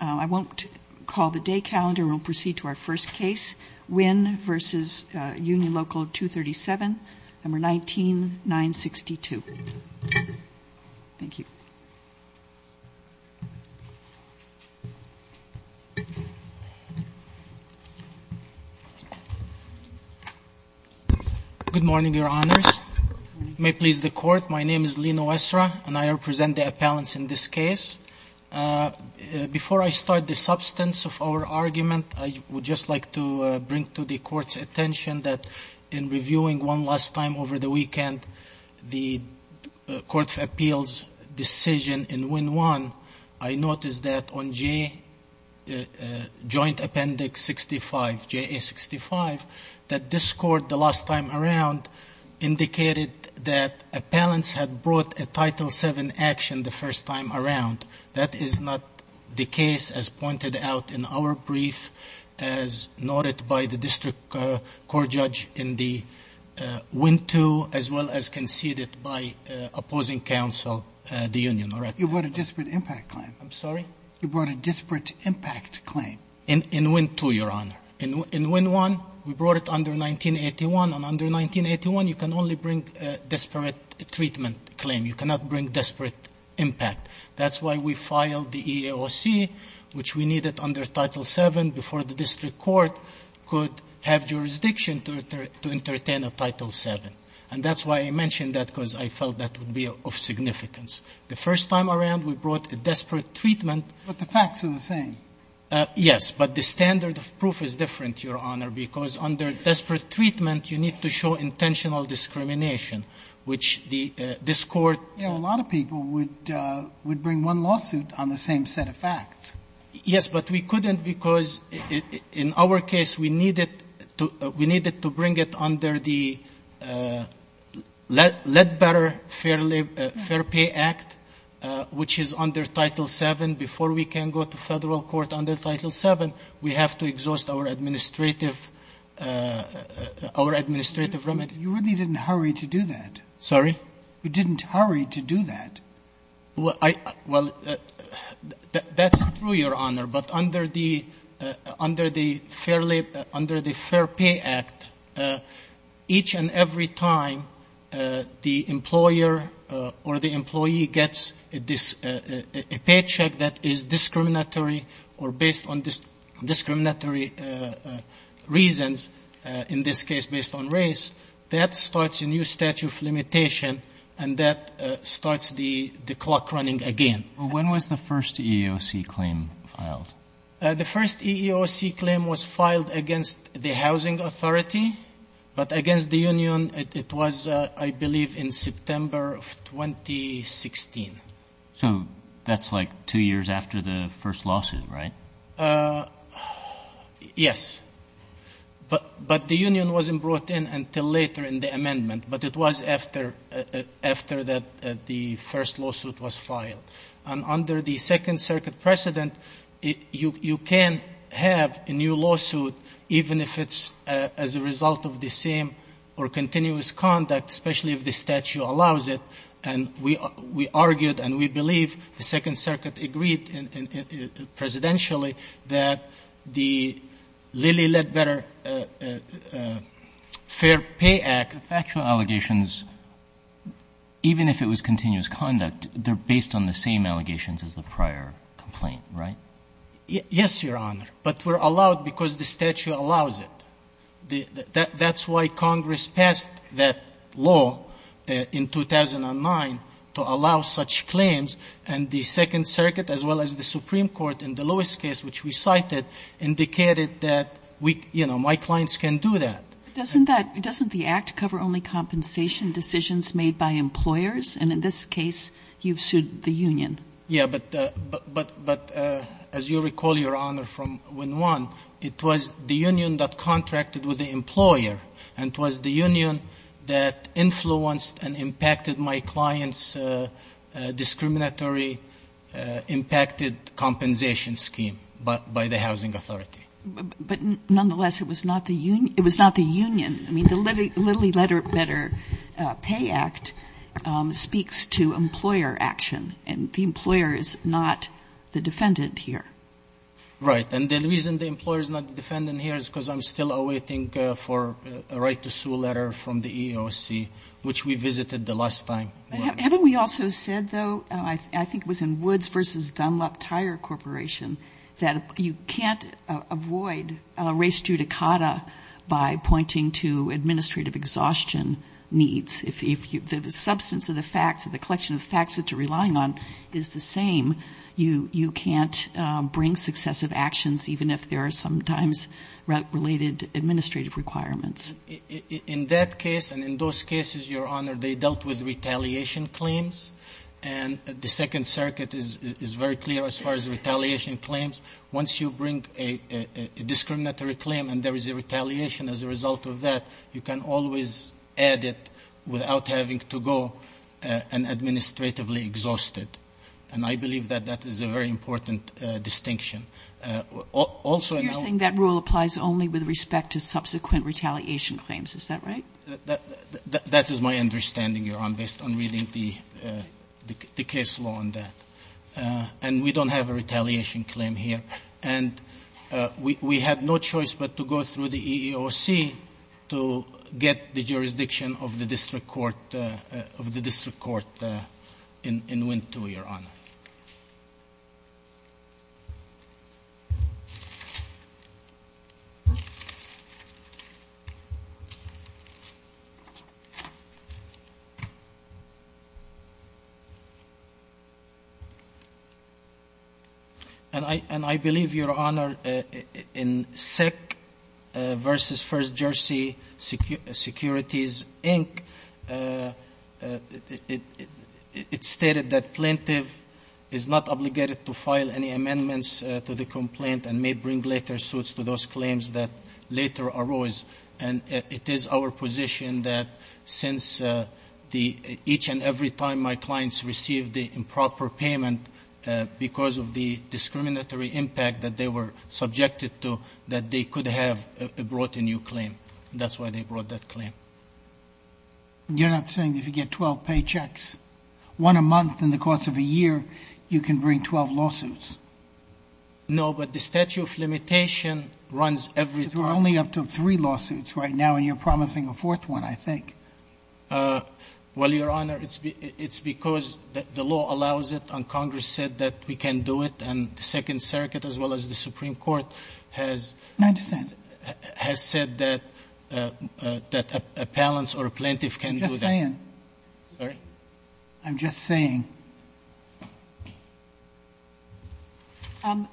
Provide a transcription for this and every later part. I won't call the day calendar. We'll proceed to our first case, Wynn v. Union Local 237, No. 19-962. Thank you. Good morning, Your Honors. May it please the Court, my name is Lino Esra, and I represent the appellants in this case. Before I start the substance of our argument, I would just like to bring to the Court's attention that in reviewing one last time over the weekend the Court of Appeals decision in Wynn 1, I noticed that on J Joint Appendix 65, JA 65, that this Court, the last time around, indicated that appellants had brought a Title VII action the first time around. That is not the case, as pointed out in our brief, as noted by the District Court Judge in the Wynn 2, as well as conceded by opposing counsel, the Union. You brought a disparate impact claim. I'm sorry? You brought a disparate impact claim. In Wynn 2, Your Honor. In Wynn 1, we brought it under 1981. And under 1981, you can only bring a disparate treatment claim. You cannot bring disparate impact. That's why we filed the EEOC, which we needed under Title VII before the District Court could have jurisdiction to entertain a Title VII. And that's why I mentioned that, because I felt that would be of significance. The first time around, we brought a disparate treatment. But the facts are the same. Yes, but the standard of proof is different, Your Honor, because under disparate treatment, you need to show intentional discrimination, which this Court You know, a lot of people would bring one lawsuit on the same set of facts. Yes, but we couldn't, because in our case, we needed to bring it under the Ledbetter Fair Pay Act, which is under Title VII. Before we can go to federal court under Title VII, we have to exhaust our administrative remedy. You really didn't hurry to do that. Sorry? You didn't hurry to do that. Well, that's true, Your Honor. But under the Fair Pay Act, each and every time, the employer or the employee gets a paycheck that is discriminatory or based on discriminatory reasons, in this case based on race, that starts a new statute of limitation, and that starts the clock running again. When was the first EEOC claim filed? The first EEOC claim was filed against the Housing Authority, but against the Housing Authority, I believe, in September of 2016. So that's like two years after the first lawsuit, right? Yes. But the union wasn't brought in until later in the amendment, but it was after that the first lawsuit was filed. And under the Second Circuit precedent, you can have a new lawsuit even if it's as a result of the same or continuous conduct, especially if the statute allows it. And we argued and we believe the Second Circuit agreed presidentially that the Lilly Ledbetter Fair Pay Act. The factual allegations, even if it was continuous conduct, they're based on the same allegations as the prior complaint, right? Yes, Your Honor. But we're allowed because the statute allows it. That's why Congress passed that law in 2009 to allow such claims. And the Second Circuit, as well as the Supreme Court in the Lewis case, which we cited, indicated that, you know, my clients can do that. Doesn't the Act cover only compensation decisions made by employers? And in this case, you've sued the union. Yeah. But as you recall, Your Honor, from when one, it was the union that contacted with the employer. And it was the union that influenced and impacted my client's discriminatory impacted compensation scheme by the housing authority. But nonetheless, it was not the union. I mean, the Lilly Ledbetter Pay Act speaks to employer action. And the employer is not the defendant here. Right. And the reason the employer is not the defendant here is because I'm still awaiting for a right to sue letter from the EEOC, which we visited the last time. Haven't we also said, though, I think it was in Woods v. Dunlop Tire Corporation, that you can't avoid res judicata by pointing to administrative exhaustion needs. If the substance of the facts, the collection of facts that you're relying on is the same, you can't bring successive actions, even if there are sometimes related administrative requirements. In that case, and in those cases, Your Honor, they dealt with retaliation claims. And the Second Circuit is very clear as far as retaliation claims. Once you bring a discriminatory claim and there is a retaliation as a result of that, you can always add it without having to go and administratively exhaust it. And I believe that that is a very important distinction. Also, I know you're saying that rule applies only with respect to subsequent retaliation claims. Is that right? That is my understanding, Your Honor, based on reading the case law on that. And we don't have a retaliation claim here. And we had no choice but to go through the EEOC to get the jurisdiction of the district court in Wintow, Your Honor. And I believe, Your Honor, in SEC v. First Jersey Securities, Inc., it stated that the plaintiff is not obligated to file any amendments to the complaint and may bring later suits to those claims that later arose. And it is our position that since each and every time my clients received the improper payment, because of the discriminatory impact that they were subjected to, that they could have brought a new claim. That's why they brought that claim. You're not saying if you get 12 paychecks, one a month in the course of a year, you can bring 12 lawsuits? No, but the statute of limitation runs every time. Because we're only up to three lawsuits right now, and you're promising a fourth one, I think. Well, Your Honor, it's because the law allows it, and Congress said that we can do it, and the Second Circuit, as well as the Supreme Court, has said that appellants or a plaintiff can do that. I'm just saying. Sorry? I'm just saying.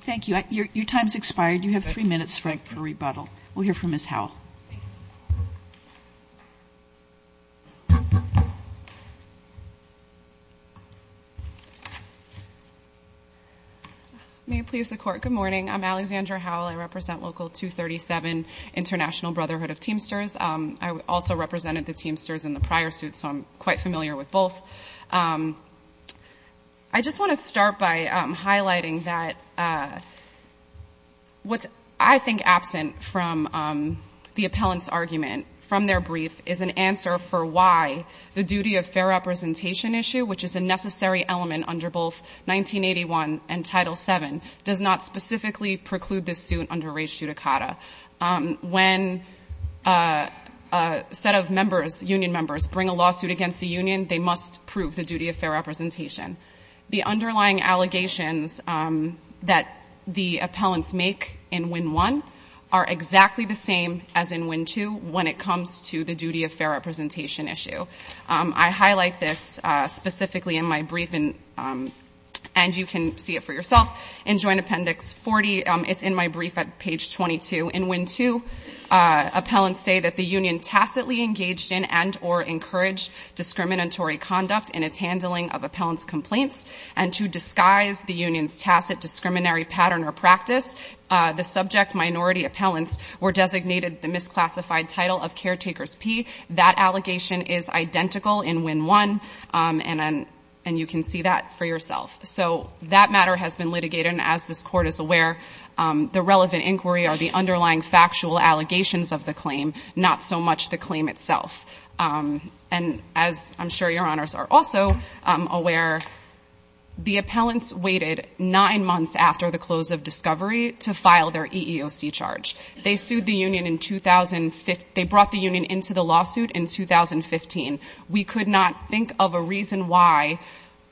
Thank you. Your time's expired. You have three minutes, Frank, for rebuttal. We'll hear from Ms. Howell. May it please the Court, good morning. I'm Alexandra Howell. I represent Local 237 International Brotherhood of Teamsters. I also represented the Teamsters in the prior suit, so I'm quite familiar with both. I just want to start by highlighting that what's, I think, absent from the appellant's argument from their brief is an answer for why the duty of fair representation issue, which is a necessary element under both 1981 and Title VII, does not specifically preclude this suit under rejudicata. When a set of members, union members, bring a lawsuit against the union, they must prove the duty of fair representation. The underlying allegations that the appellants make in Win 1 are exactly the same as in Win 2 when it comes to the duty of fair representation issue. I highlight this specifically in my brief, and you can see it for yourself. In Joint Appendix 40, it's in my brief at page 22. In Win 2, appellants say that the union tacitly engaged in and or encouraged discriminatory conduct in its handling of appellant's complaints, and to disguise the union's tacit discriminatory pattern or practice, the subject minority appellants were designated the misclassified title of caretakers P. That allegation is identical in Win 1, and you can see that for yourself. So that matter has been litigated, and as this Court is aware, the relevant inquiry are the underlying factual allegations of the claim, not so much the claim itself. And as I'm sure your honors are also aware, the appellants waited nine months after the close of discovery to file their EEOC charge. They brought the union into the lawsuit in 2015. We could not think of a reason why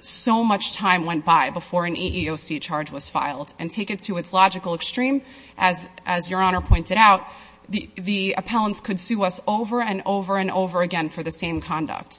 so much time went by before an EEOC charge was filed. And take it to its logical extreme, as your honor pointed out, the appellants could sue us over and over and over again for the same conduct.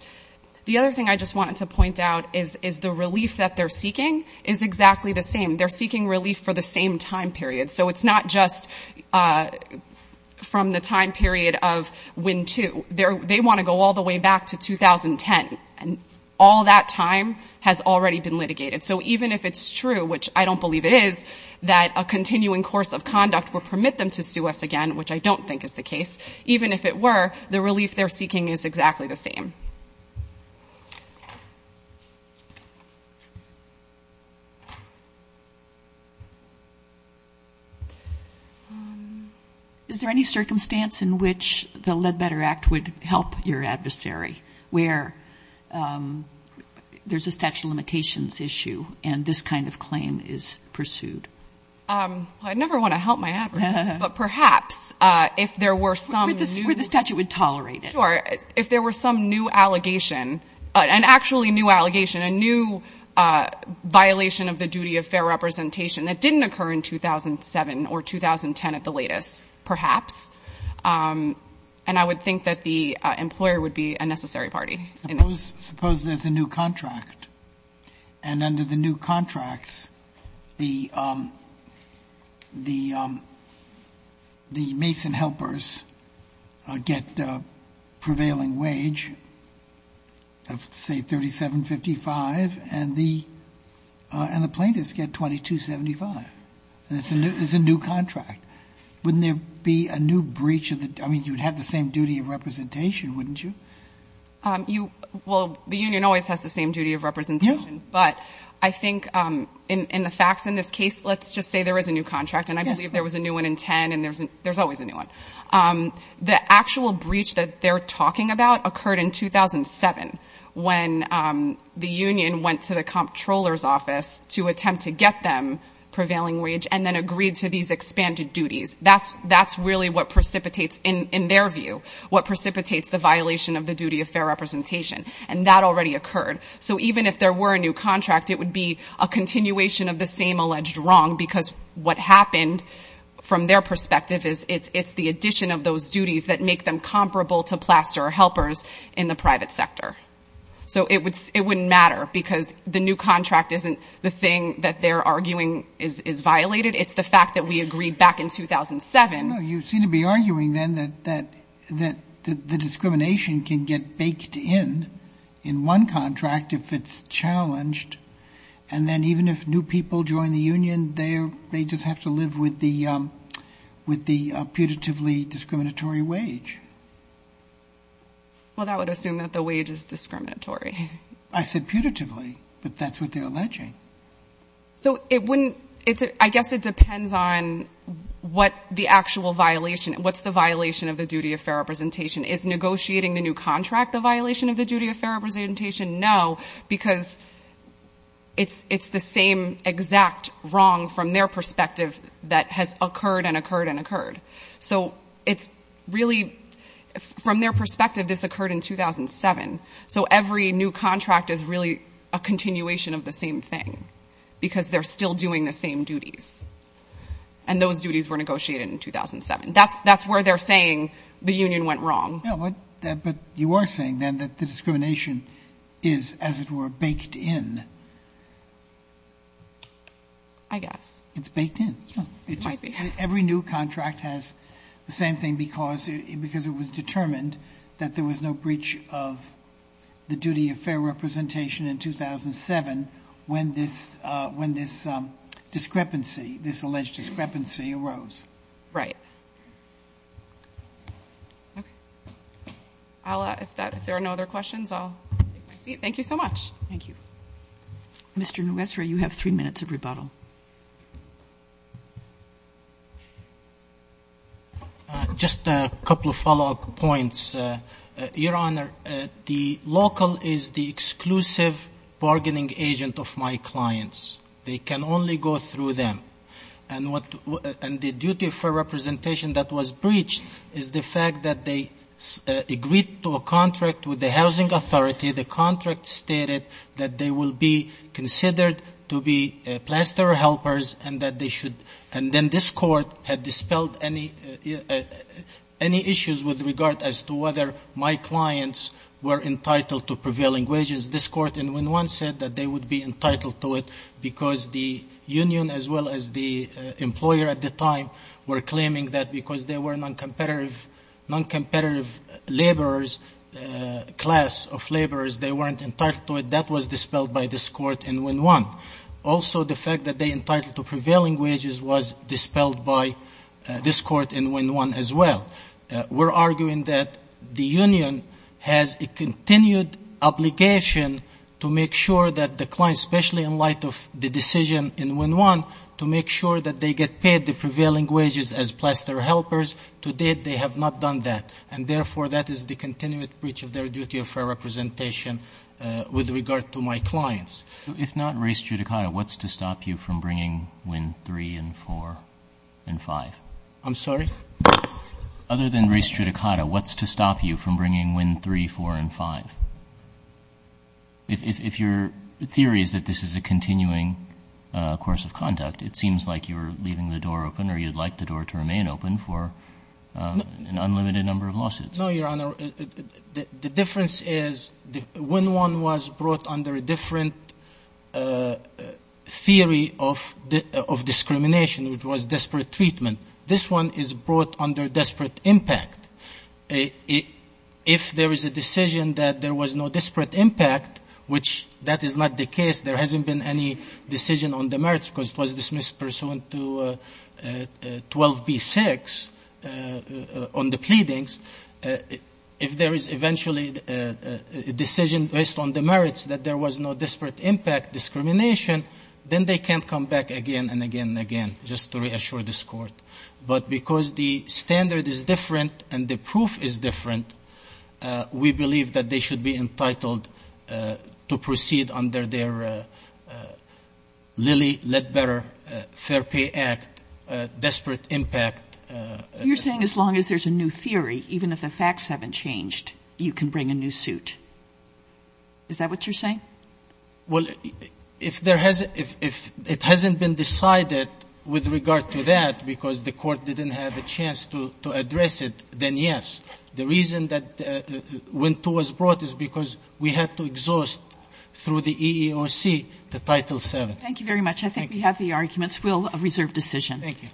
The other thing I just wanted to point out is the relief that they're seeking is exactly the same. They're seeking relief for the same time period. So it's not just from the time period of Win 2. They want to go all the way back to 2010, and all that time has already been litigated. So even if it's true, which I don't believe it is, that a continuing course of conduct will permit them to sue us again, which I don't think is the case, even if it were, the relief they're seeking is exactly the same. Is there any circumstance in which the Ledbetter Act would help your adversary where there's a statute of limitations issue and this kind of claim is pursued? I never want to help my adversary, but perhaps if there were some new... Where the statute would tolerate it. Sure. If there were some new allegation, an actually new allegation, a new violation of the duty of fair representation that didn't occur in 2007 or 2010 at the latest, perhaps. And I would think that the employer would be a necessary party. Suppose there's a new contract, and under the new contracts, the Mason helpers get a prevailing wage of, say, $3,755, and the plaintiffs get $2,275. It's a new contract. Wouldn't there be a new breach of the... I mean, you'd have the same duty of representation, wouldn't you? Well, the union always has the same duty of representation. Yes. But I think in the facts in this case, let's just say there is a new contract, and I believe there was a new one in 2010, and there's always a new one. The actual breach that they're talking about occurred in 2007, when the union went to the comptroller's office to attempt to get them prevailing wage and then agreed to these expanded duties. That's really what precipitates, in their view, what precipitates the violation of the duty of fair representation. And that already occurred. So even if there were a new contract, it would be a continuation of the same alleged wrong, because what happened, from their perspective, is it's the addition of those duties that make them comparable to plaster or helpers in the private sector. So it wouldn't matter, because the new contract isn't the thing that they're arguing is violated. It's the fact that we agreed back in 2007. No, you seem to be arguing, then, that the discrimination can get baked in, in one contract, if it's challenged, and then even if new people join the union, they just have to live with the putatively discriminatory wage. Well, that would assume that the wage is discriminatory. I said putatively, but that's what they're alleging. So I guess it depends on what the actual violation, what's the violation of the duty of fair representation. Is negotiating the new contract the violation of the duty of fair representation? No, because it's the same exact wrong, from their perspective, that has occurred and occurred and occurred. So it's really, from their perspective, this occurred in 2007. So every new contract is really a continuation of the same thing, because they're still doing the same duties, and those duties were negotiated in 2007. That's where they're saying the union went wrong. No, but you are saying, then, that the discrimination is, as it were, baked in. I guess. It's baked in. It might be. Every new contract has the same thing, because it was determined that there was no breach of the duty of fair representation in 2007 when this discrepancy, this alleged discrepancy arose. Right. All right. If there are no other questions, I'll take my seat. Thank you so much. Thank you. Mr. Nwesri, you have three minutes of rebuttal. Just a couple of follow-up points. Your Honor, the local is the exclusive bargaining agent of my clients. They can only go through them. And the duty of fair representation that was breached is the fact that they agreed to a contract with the housing authority. The contract stated that they will be considered to be planster helpers, and then this Court had dispelled any issues with regard as to whether my clients were entitled to prevailing wages. This Court in win one said that they would be entitled to it because the union, as well as the employer at the time, were claiming that because they were noncompetitive laborers, class of laborers, they weren't entitled to it. That was dispelled by this Court in win one. Also, the fact that they entitled to prevailing wages was dispelled by this Court in win one as well. We're arguing that the union has a continued obligation to make sure that the client, especially in light of the decision in win one, to make sure that they get paid the prevailing wages as plaster helpers. To date, they have not done that. And, therefore, that is the continued breach of their duty of fair representation with regard to my clients. If not race judicata, what's to stop you from bringing win three and four and five? I'm sorry? Other than race judicata, what's to stop you from bringing win three, four, and five? If your theory is that this is a continuing course of conduct, it seems like you're leaving the door open or you'd like the door to remain open for an unlimited number of lawsuits. No, Your Honor. The difference is win one was brought under a different theory of discrimination, which was disparate treatment. This one is brought under disparate impact. If there is a decision that there was no disparate impact, which that is not the case, there hasn't been any decision on the merits because it was dismissed pursuant to 12b-6 on the pleadings. If there is eventually a decision based on the merits that there was no disparate impact discrimination, then they can't come back again and again and again, just to reassure this Court. But because the standard is different and the proof is different, we believe that they should be entitled to proceed under their Lilly Ledbetter Fair Pay Act disparate impact. You're saying as long as there's a new theory, even if the facts haven't changed, you can bring a new suit. Is that what you're saying? Well, if it hasn't been decided with regard to that because the Court didn't have a chance to address it, then yes. The reason that win two was brought is because we had to exhaust through the EEOC the Title VII. Thank you very much. I think we have the arguments. We'll reserve decision. Thank you.